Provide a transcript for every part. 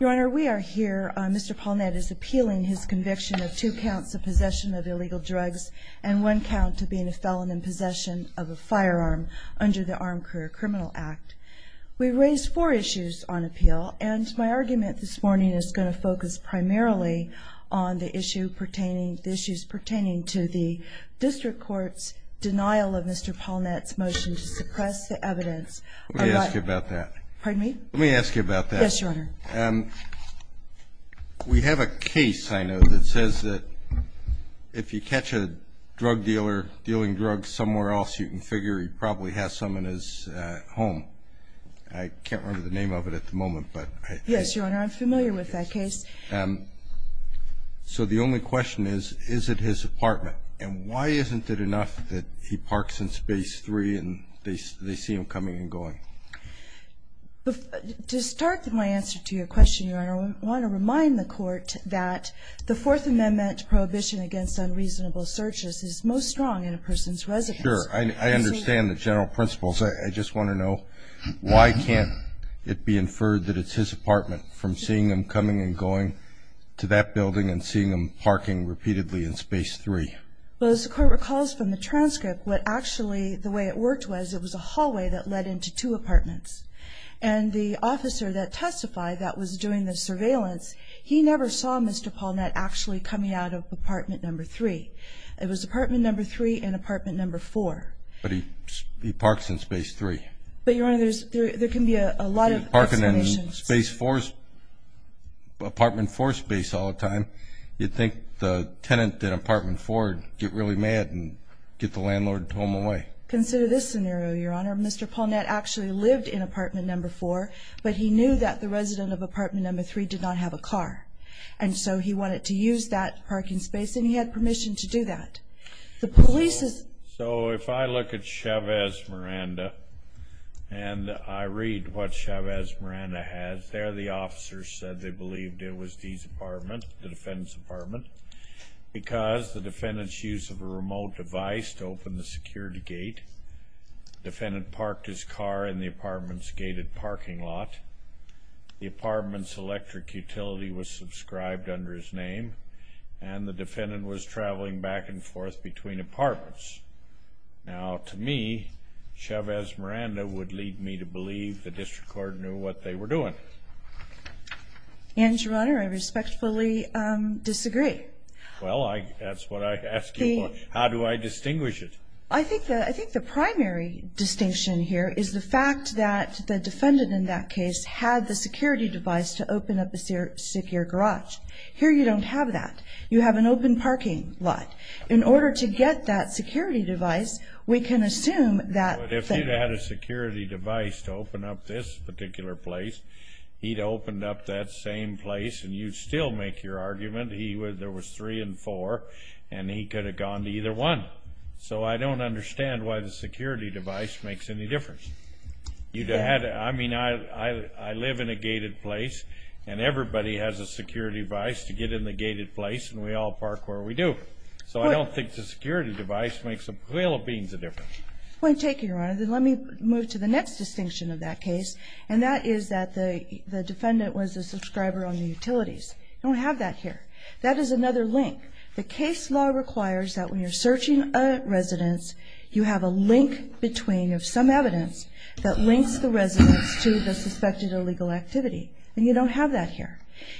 Your Honor, we are here. Mr. Polnett is appealing his conviction of two counts of possession of illegal drugs and one count of being a felon in possession of a firearm under the Armed Career Criminal Act. We raised four issues on appeal and my argument this morning is going to focus primarily on the issues pertaining to the District Court's denial of Mr. Polnett's motion to suppress the evidence. Let me ask you about that. Pardon me? Let me ask you about that. Yes, Your Honor. We have a case, I know, that says that if you catch a drug dealer dealing drugs somewhere else, you can figure he probably has some in his home. I can't remember the name of it at the moment. Yes, Your Honor, I'm familiar with that case. So the only question is, is it his apartment? And why isn't it enough that he parks in Space 3 and they see him coming and going? To start my answer to your question, Your Honor, I want to remind the Court that the Fourth Amendment prohibition against unreasonable searches is most strong in a person's residence. Sure. I understand the general principles. I just want to know why can't it be inferred that it's his apartment from seeing him coming and going to that building and seeing him parking repeatedly in Space 3? Well, as the Court recalls from the transcript, what actually the way it worked was it was a hallway that led into two apartments. And the officer that testified that was doing the surveillance, he never saw Mr. Polnett actually coming out of apartment number 3. It was apartment number 3 and apartment number 4. But he parks in Space 3. But, Your Honor, there can be a lot of explanations. He's parking in Space 4's apartment 4 space all the time. You'd think the tenant in apartment 4 would get really mad and get the landlord home away. Consider this scenario, Your Honor. Mr. Polnett actually lived in apartment number 4, but he knew that the resident of apartment number 3 did not have a car. And so he wanted to use that parking space, and he had permission to do that. So if I look at Chavez-Miranda and I read what Chavez-Miranda has, there the officer said they believed it was Dee's apartment, the defendant's apartment, because the defendant's use of a remote device to open the security gate. The defendant parked his car in the apartment's gated parking lot. The apartment's electric utility was subscribed under his name. And the defendant was traveling back and forth between apartments. Now, to me, Chavez-Miranda would lead me to believe the district court knew what they were doing. And, Your Honor, I respectfully disagree. Well, that's what I asked you for. How do I distinguish it? I think the primary distinction here is the fact that the defendant in that case had the security device to open up a secure garage. Here you don't have that. You have an open parking lot. In order to get that security device, we can assume that the defendant had a security device to open up this particular place. He'd opened up that same place, and you'd still make your argument there was three and four, and he could have gone to either one. So I don't understand why the security device makes any difference. I mean, I live in a gated place, and everybody has a security device to get in the gated place, and we all park where we do. So I don't think the security device makes a whale of beans of difference. Point taken, Your Honor. Then let me move to the next distinction of that case, and that is that the defendant was a subscriber on the utilities. You don't have that here. That is another link. The case law requires that when you're searching a residence, you have a link between some evidence that links the residence to the suspected illegal activity, and you don't have that here.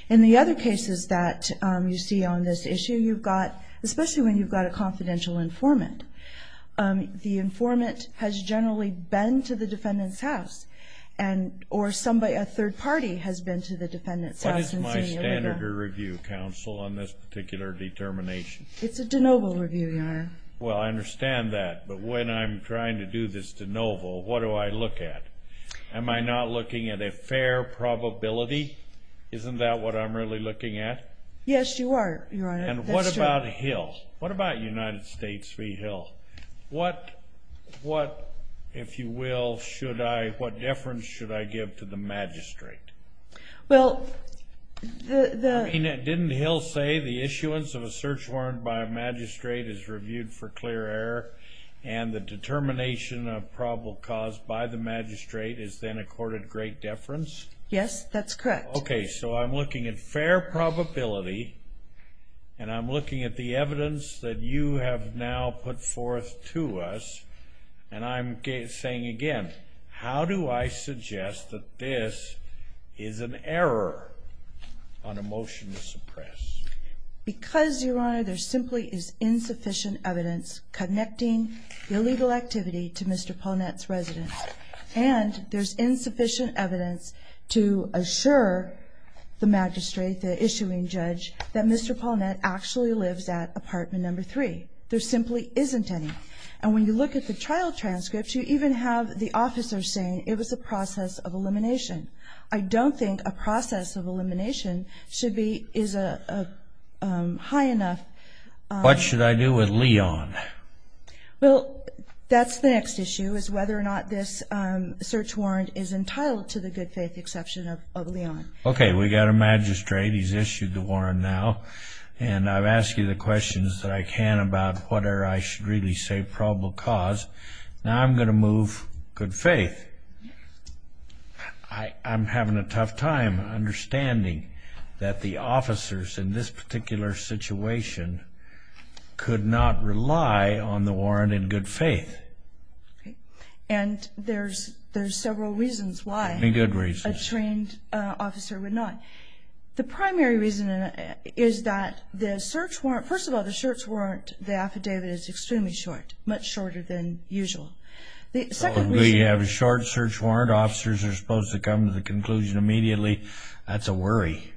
In the other cases that you see on this issue, you've got, especially when you've got a confidential informant, the informant has generally been to the defendant's house, or a third party has been to the defendant's house. What is my standard of review, counsel, on this particular determination? It's a de novo review, Your Honor. Well, I understand that, but when I'm trying to do this de novo, what do I look at? Am I not looking at a fair probability? Isn't that what I'm really looking at? Yes, you are, Your Honor. And what about Hill? What about United States v. Hill? What, if you will, should I, what deference should I give to the magistrate? Well, the... I mean, didn't Hill say the issuance of a search warrant by a magistrate is reviewed for clear error, and the determination of probable cause by the magistrate is then accorded great deference? Yes, that's correct. Okay, so I'm looking at fair probability, and I'm looking at the evidence that you have now put forth to us, and I'm saying again, how do I suggest that this is an error on a motion to suppress? Because, Your Honor, there simply is insufficient evidence connecting the illegal activity to Mr. Paulnett's residence, and there's insufficient evidence to assure the magistrate, the issuing judge, that Mr. Paulnett actually lives at apartment number three. There simply isn't any. And when you look at the trial transcripts, you even have the officer saying it was a process of elimination. I don't think a process of elimination should be, is high enough. What should I do with Leon? Well, that's the next issue, is whether or not this search warrant is entitled to the good faith exception of Leon. Okay, we've got a magistrate. He's issued the warrant now, and I've asked you the questions that I can about what error I should really say probable cause. Now I'm going to move good faith. I'm having a tough time understanding that the officers in this particular situation could not rely on the warrant in good faith. And there's several reasons why a trained officer would not. The primary reason is that the search warrant, first of all, the search warrant, the affidavit is extremely short, much shorter than usual. We have a short search warrant. Officers are supposed to come to the conclusion immediately. That's a worry.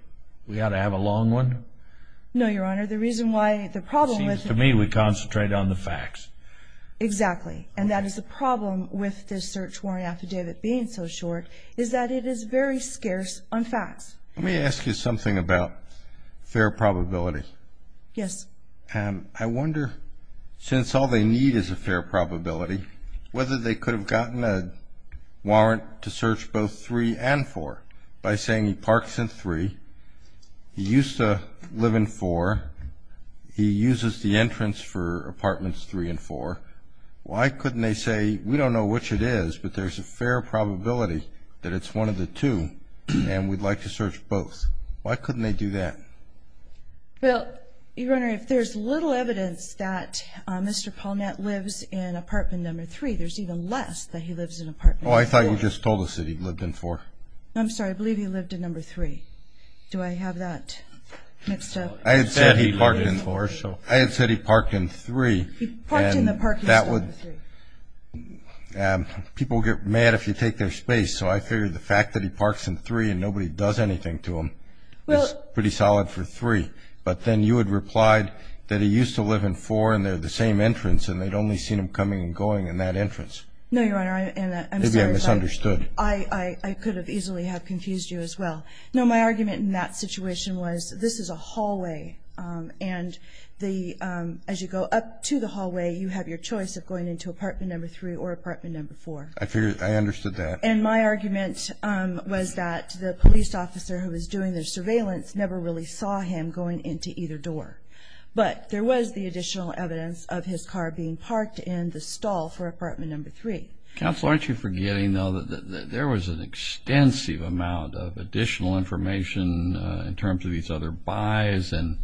We ought to have a long one? No, Your Honor. The reason why the problem with it. It seems to me we concentrate on the facts. Exactly, and that is the problem with this search warrant affidavit being so short, is that it is very scarce on facts. Let me ask you something about fair probability. Yes. I wonder, since all they need is a fair probability, whether they could have gotten a warrant to search both 3 and 4 by saying he parks in 3, he used to live in 4, he uses the entrance for apartments 3 and 4. Why couldn't they say, we don't know which it is, but there's a fair probability that it's one of the two and we'd like to search both? Why couldn't they do that? Well, Your Honor, if there's little evidence that Mr. Paulnett lives in apartment number 3, there's even less that he lives in apartment number 4. Oh, I thought you just told us that he lived in 4. I'm sorry. I believe he lived in number 3. Do I have that mixed up? I had said he parked in 4. I had said he parked in 3. He parked in the parking spot in 3. People get mad if you take their space, so I figured the fact that he parks in 3 and nobody does anything to him is pretty solid for 3. But then you had replied that he used to live in 4 and they're the same entrance and they'd only seen him coming and going in that entrance. No, Your Honor, I'm sorry. Maybe I misunderstood. I could have easily have confused you as well. No, my argument in that situation was this is a hallway, and as you go up to the hallway, you have your choice of going into apartment number 3 or apartment number 4. I understood that. And my argument was that the police officer who was doing the surveillance never really saw him going into either door. But there was the additional evidence of his car being parked in the stall for apartment number 3. Counsel, aren't you forgetting, though, that there was an extensive amount of additional information in terms of these other buys and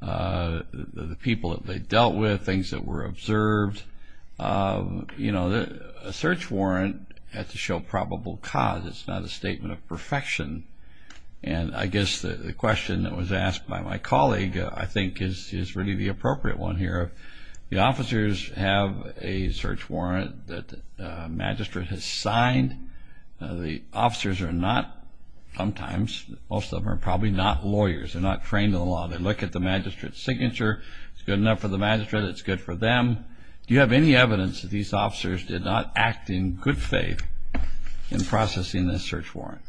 the people that they dealt with, things that were observed? You know, a search warrant has to show probable cause. It's not a statement of perfection. And I guess the question that was asked by my colleague, I think, is really the appropriate one here. The officers have a search warrant that the magistrate has signed. The officers are not, sometimes, most of them are probably not lawyers. They're not trained in the law. They look at the magistrate's signature. It's good enough for the magistrate. It's good for them. Do you have any evidence that these officers did not act in good faith in processing this search warrant?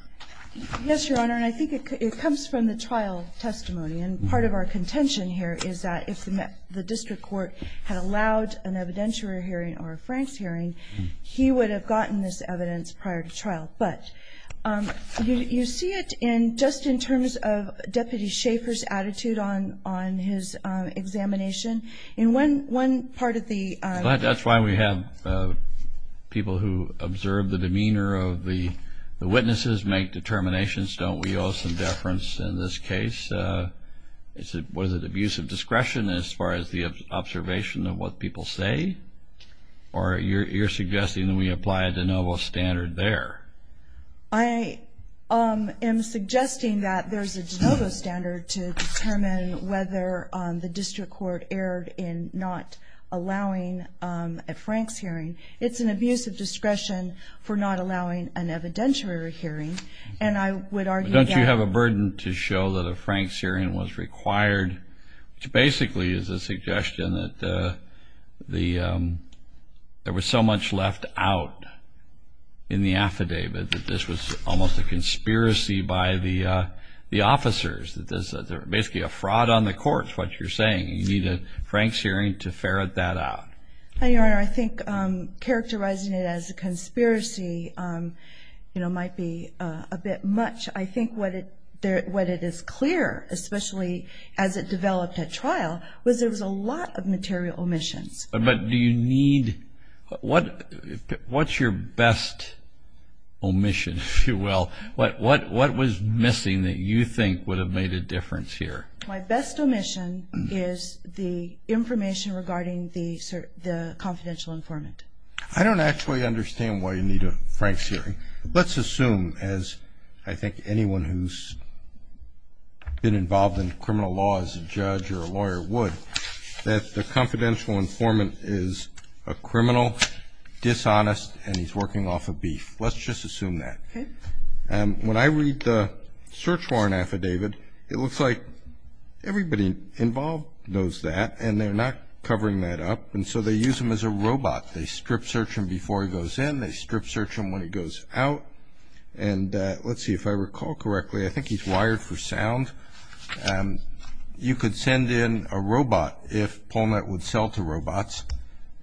Yes, Your Honor, and I think it comes from the trial testimony. And part of our contention here is that if the district court had allowed an evidentiary hearing But you see it just in terms of Deputy Schaefer's attitude on his examination. In one part of the ---- That's why we have people who observe the demeanor of the witnesses, make determinations, don't we owe some deference in this case? Was it abuse of discretion as far as the observation of what people say? Or you're suggesting that we apply a de novo standard there? I am suggesting that there's a de novo standard to determine whether the district court erred in not allowing a Franks hearing. It's an abuse of discretion for not allowing an evidentiary hearing, and I would argue that ---- Don't you have a burden to show that a Franks hearing was required, which basically is a suggestion that there was so much left out in the affidavit that this was almost a conspiracy by the officers, that there was basically a fraud on the court is what you're saying. You need a Franks hearing to ferret that out. Your Honor, I think characterizing it as a conspiracy might be a bit much. I think what it is clear, especially as it developed at trial, was there was a lot of material omissions. But do you need ---- What's your best omission, if you will? What was missing that you think would have made a difference here? My best omission is the information regarding the confidential informant. I don't actually understand why you need a Franks hearing. Let's assume, as I think anyone who's been involved in criminal law as a judge or a lawyer would, that the confidential informant is a criminal, dishonest, and he's working off of beef. Let's just assume that. Okay. When I read the search warrant affidavit, it looks like everybody involved knows that, and they're not covering that up, and so they use him as a robot. They strip search him before he goes in. They strip search him when he goes out. And let's see if I recall correctly, I think he's wired for sound. You could send in a robot if Polknett would sell to robots,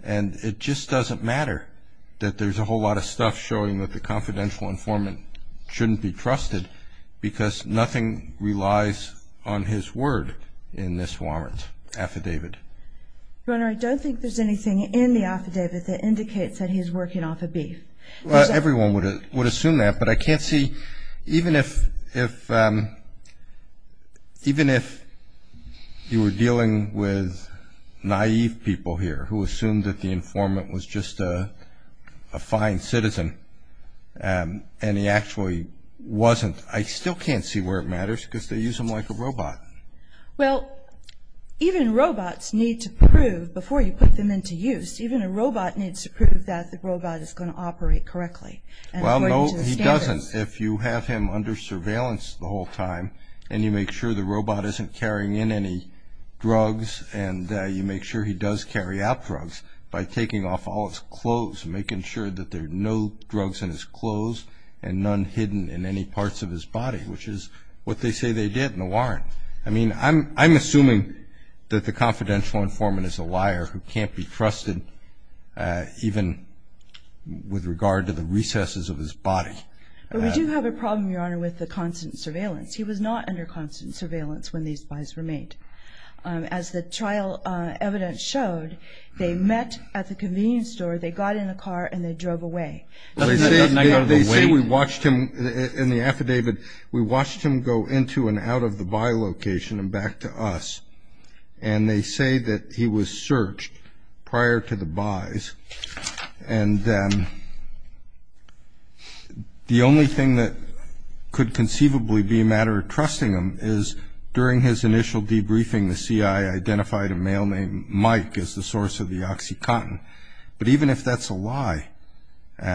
and it just doesn't matter that there's a whole lot of stuff showing that the confidential informant shouldn't be trusted because nothing relies on his word in this warrant affidavit. Your Honor, I don't think there's anything in the affidavit that indicates that he's working off of beef. Everyone would assume that, but I can't see. Even if you were dealing with naive people here who assumed that the informant was just a fine citizen and he actually wasn't, I still can't see where it matters because they use him like a robot. Well, even robots need to prove, before you put them into use, even a robot needs to prove that the robot is going to operate correctly. Well, no, he doesn't. If you have him under surveillance the whole time and you make sure the robot isn't carrying in any drugs and you make sure he does carry out drugs by taking off all his clothes, making sure that there are no drugs in his clothes and none hidden in any parts of his body, which is what they say they did in the warrant. I mean, I'm assuming that the confidential informant is a liar who can't be trusted even with regard to the recesses of his body. But we do have a problem, Your Honor, with the constant surveillance. He was not under constant surveillance when these buys were made. As the trial evidence showed, they met at the convenience store, they got in a car, and they drove away. They say we watched him in the affidavit. We watched him go into and out of the buy location and back to us. And they say that he was searched prior to the buys. And the only thing that could conceivably be a matter of trusting him is during his initial debriefing, the CI identified a male named Mike as the source of the OxyContin. But even if that's a lie,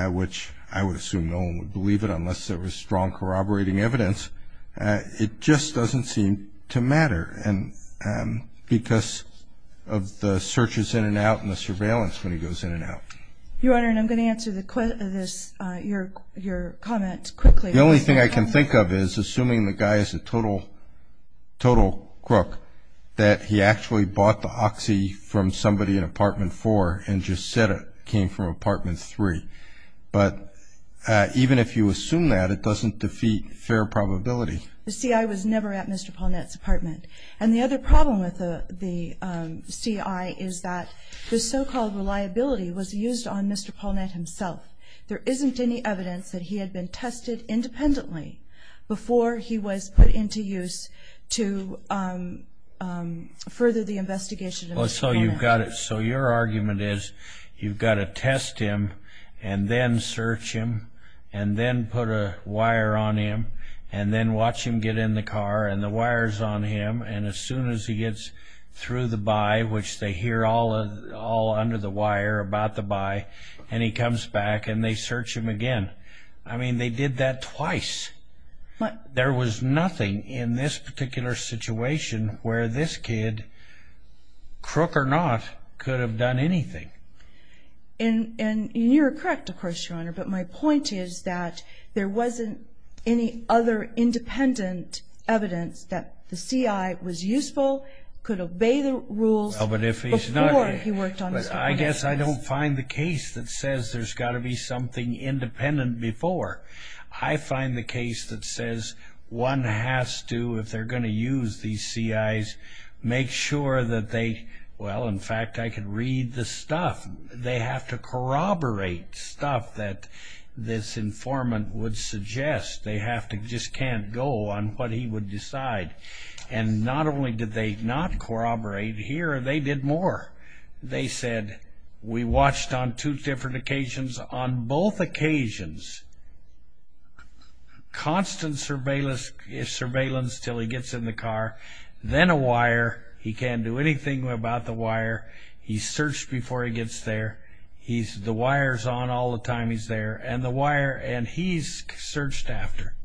which I would assume no one would believe it unless there was strong corroborating evidence, it just doesn't seem to matter because of the searches in and out and the surveillance when he goes in and out. Your Honor, and I'm going to answer your comment quickly. The only thing I can think of is, assuming the guy is a total crook, that he actually bought the Oxy from somebody in Apartment 4 and just said it came from Apartment 3. But even if you assume that, it doesn't defeat fair probability. The CI was never at Mr. Paulnett's apartment. And the other problem with the CI is that the so-called reliability was used on Mr. Paulnett himself. There isn't any evidence that he had been tested independently before he was put into use to further the investigation of Mr. Paulnett. So your argument is you've got to test him and then search him and then put a wire on him and then watch him get in the car and the wire's on him. And as soon as he gets through the buy, which they hear all under the wire about the buy, and he comes back and they search him again. I mean, they did that twice. There was nothing in this particular situation where this kid, crook or not, could have done anything. And you're correct, of course, Your Honor, but my point is that there wasn't any other independent evidence that the CI was useful, could obey the rules before he worked on Mr. Paulnett's case. I guess I don't find the case that says there's got to be something independent before. I find the case that says one has to, if they're going to use these CIs, make sure that they, well, in fact, I can read the stuff. They have to corroborate stuff that this informant would suggest. They have to, just can't go on what he would decide. And not only did they not corroborate here, they did more. They said, we watched on two different occasions. On both occasions, constant surveillance until he gets in the car, then a wire. He can't do anything about the wire. He's searched before he gets there. The wire's on all the time he's there, and the wire, and he's searched after.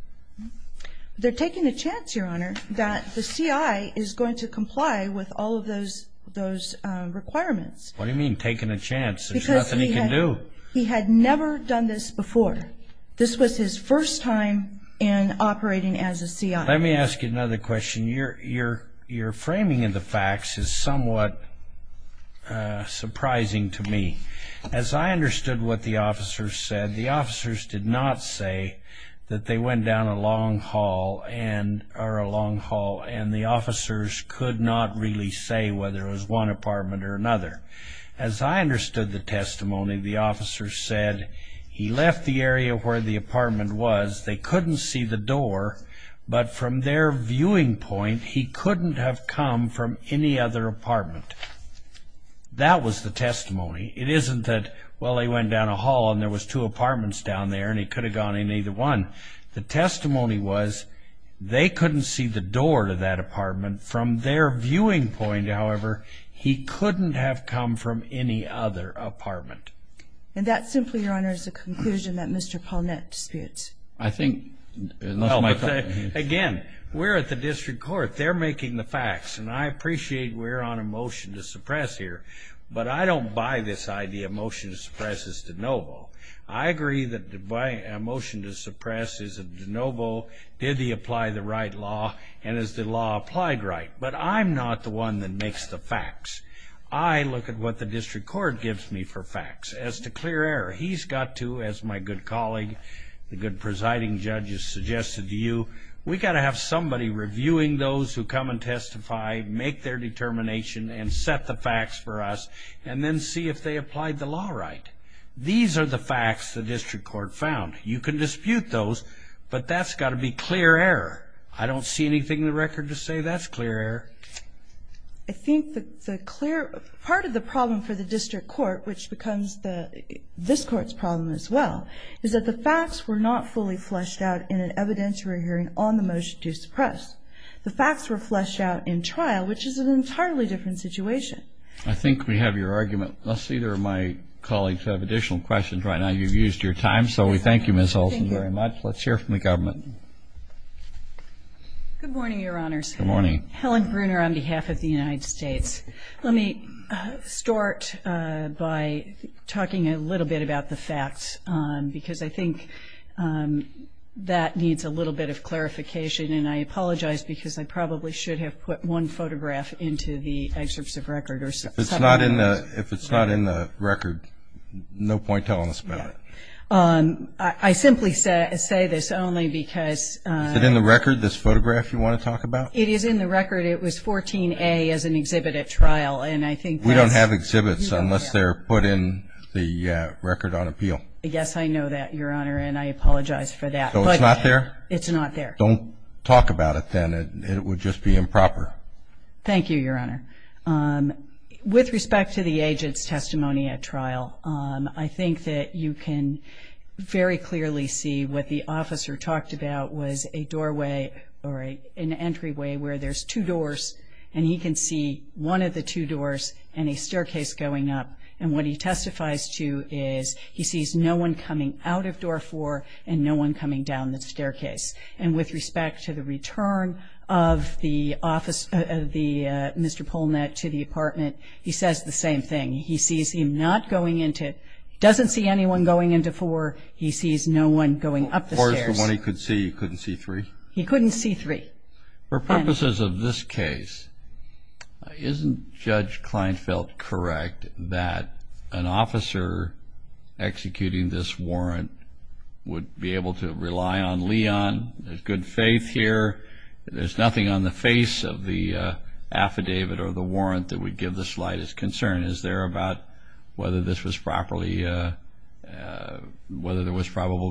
They're taking a chance, Your Honor, that the CI is going to comply with all of those requirements. What do you mean, taking a chance? There's nothing he can do. Because he had never done this before. This was his first time in operating as a CI. Let me ask you another question. Your framing of the facts is somewhat surprising to me. As I understood what the officers said, the officers did not say that they went down a long hall, or a long hall, and the officers could not really say whether it was one apartment or another. As I understood the testimony, the officers said he left the area where the apartment was. They couldn't see the door, but from their viewing point, he couldn't have come from any other apartment. That was the testimony. It isn't that, well, he went down a hall, and there was two apartments down there, and he could have gone in either one. The testimony was they couldn't see the door to that apartment. From their viewing point, however, he couldn't have come from any other apartment. And that simply, Your Honor, is the conclusion that Mr. Paulnett disputes. Again, we're at the district court. They're making the facts, and I appreciate we're on a motion to suppress here, but I don't buy this idea. A motion to suppress is de novo. I agree that a motion to suppress is a de novo. Did he apply the right law, and is the law applied right? But I'm not the one that makes the facts. I look at what the district court gives me for facts. As to clear error, he's got to, as my good colleague, the good presiding judge has suggested to you, we've got to have somebody reviewing those who come and testify, make their determination, and set the facts for us, and then see if they applied the law right. These are the facts the district court found. You can dispute those, but that's got to be clear error. I don't see anything in the record to say that's clear error. I think that the clear part of the problem for the district court, which becomes this court's problem as well, is that the facts were not fully fleshed out in an evidentiary hearing on the motion to suppress. The facts were fleshed out in trial, which is an entirely different situation. I think we have your argument. I see there are my colleagues who have additional questions right now. You've used your time, so we thank you, Ms. Olson, very much. Let's hear from the government. Good morning, Your Honors. Good morning. Helen Bruner on behalf of the United States. Let me start by talking a little bit about the facts because I think that needs a little bit of clarification, and I apologize because I probably should have put one photograph into the excerpts of record or something. If it's not in the record, no point telling us about it. I simply say this only because of the record. Is it in the record, this photograph you want to talk about? It is in the record. It was 14A as an exhibit at trial. We don't have exhibits unless they're put in the record on appeal. Yes, I know that, Your Honor, and I apologize for that. So it's not there? It's not there. Don't talk about it then. It would just be improper. Thank you, Your Honor. With respect to the agent's testimony at trial, I think that you can very clearly see what the officer talked about was a doorway or an entryway where there's two doors, and he can see one of the two doors and a staircase going up. And what he testifies to is he sees no one coming out of Door 4 and no one coming down the staircase. And with respect to the return of the Mr. Polnett to the apartment, he says the same thing. He sees him not going into it, doesn't see anyone going into 4. He sees no one going up the stairs. He couldn't see 3? He couldn't see 3. For purposes of this case, isn't Judge Kleinfeld correct that an officer executing this warrant would be able to rely on Leon? There's good faith here. There's nothing on the face of the affidavit or the warrant that would give the slightest concern. Is there about whether there was probable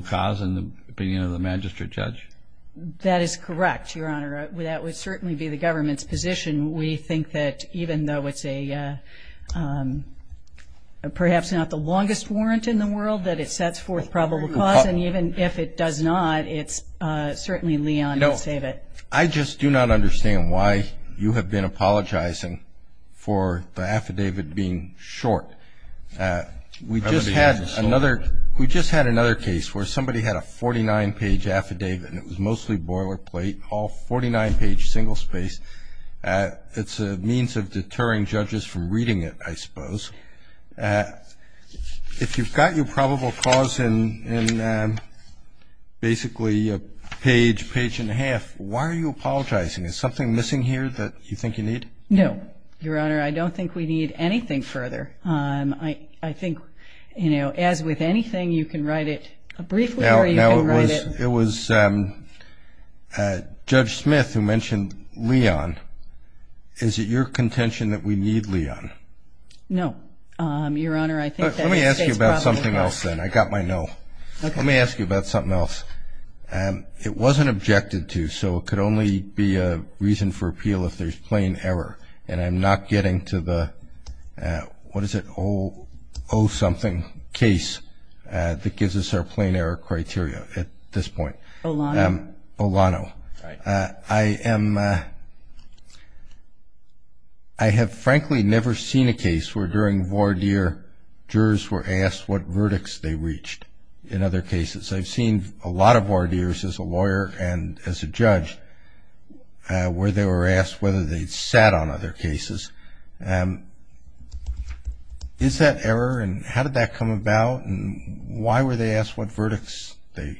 cause in the opinion of the magistrate judge? That is correct, Your Honor. That would certainly be the government's position. We think that even though it's perhaps not the longest warrant in the world, that it sets forth probable cause. And even if it does not, it's certainly Leon who saved it. I just do not understand why you have been apologizing for the affidavit being short. We just had another case where somebody had a 49-page affidavit, and it was mostly boilerplate, all 49-page single space. It's a means of deterring judges from reading it, I suppose. If you've got your probable cause in basically a page, page and a half, why are you apologizing? Is something missing here that you think you need? No, Your Honor. I don't think we need anything further. I think, you know, as with anything, you can write it briefly or you can write it. Now, it was Judge Smith who mentioned Leon. Is it your contention that we need Leon? No, Your Honor. Let me ask you about something else then. I got my no. Let me ask you about something else. It wasn't objected to, so it could only be a reason for appeal if there's plain error. And I'm not getting to the, what is it, O something case that gives us our plain error criteria at this point. Olano. Olano. Right. I am, I have frankly never seen a case where during voir dire jurors were asked what verdicts they reached in other cases. I've seen a lot of voir dires as a lawyer and as a judge where they were asked whether they'd sat on other cases. Is that error and how did that come about and why were they asked what verdicts they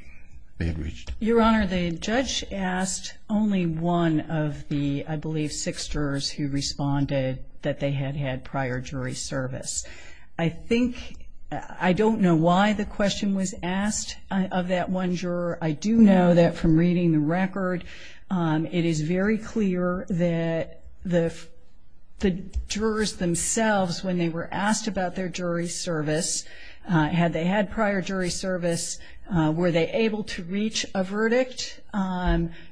had reached? Your Honor, the judge asked only one of the, I believe, six jurors who responded that they had had prior jury service. I think, I don't know why the question was asked of that one juror. I do know that from reading the record, it is very clear that the jurors themselves when they were asked about their jury service, had they had prior jury service, were they able to reach a verdict?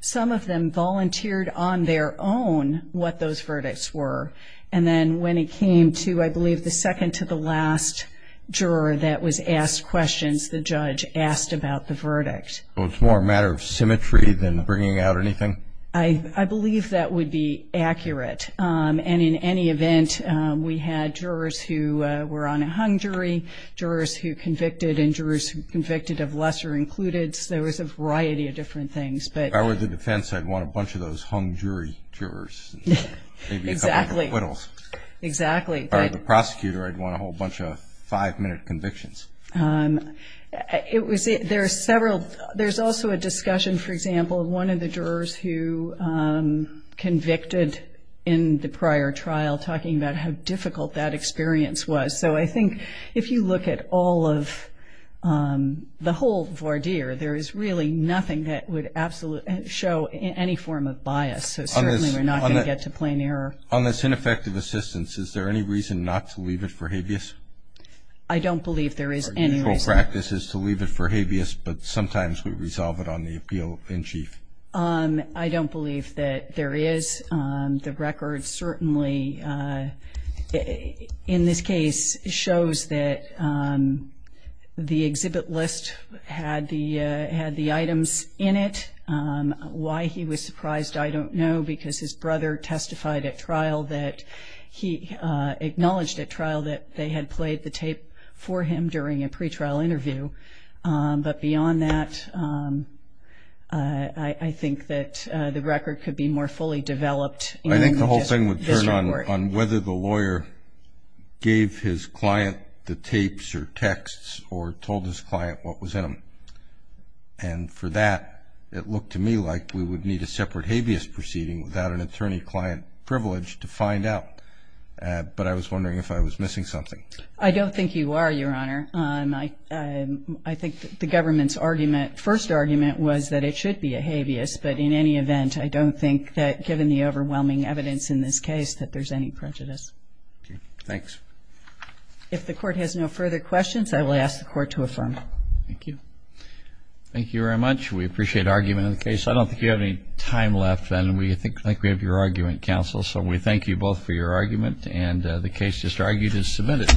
Some of them volunteered on their own what those verdicts were. And then when it came to, I believe, the second to the last juror that was asked questions, the judge asked about the verdict. So it's more a matter of symmetry than bringing out anything? I believe that would be accurate. And in any event, we had jurors who were on a hung jury, jurors who convicted and jurors who convicted of lesser included. There was a variety of different things. If I were the defense, I'd want a bunch of those hung jury jurors. Exactly. Maybe a couple of acquittals. Exactly. If I were the prosecutor, I'd want a whole bunch of five-minute convictions. There's also a discussion, for example, of one of the jurors who convicted in the prior trial, talking about how difficult that experience was. So I think if you look at all of the whole voir dire, there is really nothing that would absolutely show any form of bias. So certainly we're not going to get to plain error. On this ineffective assistance, is there any reason not to leave it for habeas? I don't believe there is any reason. Our usual practice is to leave it for habeas, but sometimes we resolve it on the appeal in chief. I don't believe that there is. The record certainly, in this case, shows that the exhibit list had the items in it. Why he was surprised, I don't know, because his brother testified at trial that he acknowledged at trial that they had played the tape for him during a pretrial interview. But beyond that, I think that the record could be more fully developed. I think the whole thing would turn on whether the lawyer gave his client the tapes or texts or told his client what was in them. And for that, it looked to me like we would need a separate habeas proceeding without an attorney-client privilege to find out. But I was wondering if I was missing something. I don't think you are, Your Honor. I think the government's argument, first argument, was that it should be a habeas. But in any event, I don't think that, given the overwhelming evidence in this case, that there's any prejudice. Thanks. If the Court has no further questions, I will ask the Court to affirm. Thank you. Thank you very much. We appreciate argument in the case. I don't think you have any time left, and I think we have your argument, Counsel. So we thank you both for your argument, and the case just argued is submitted.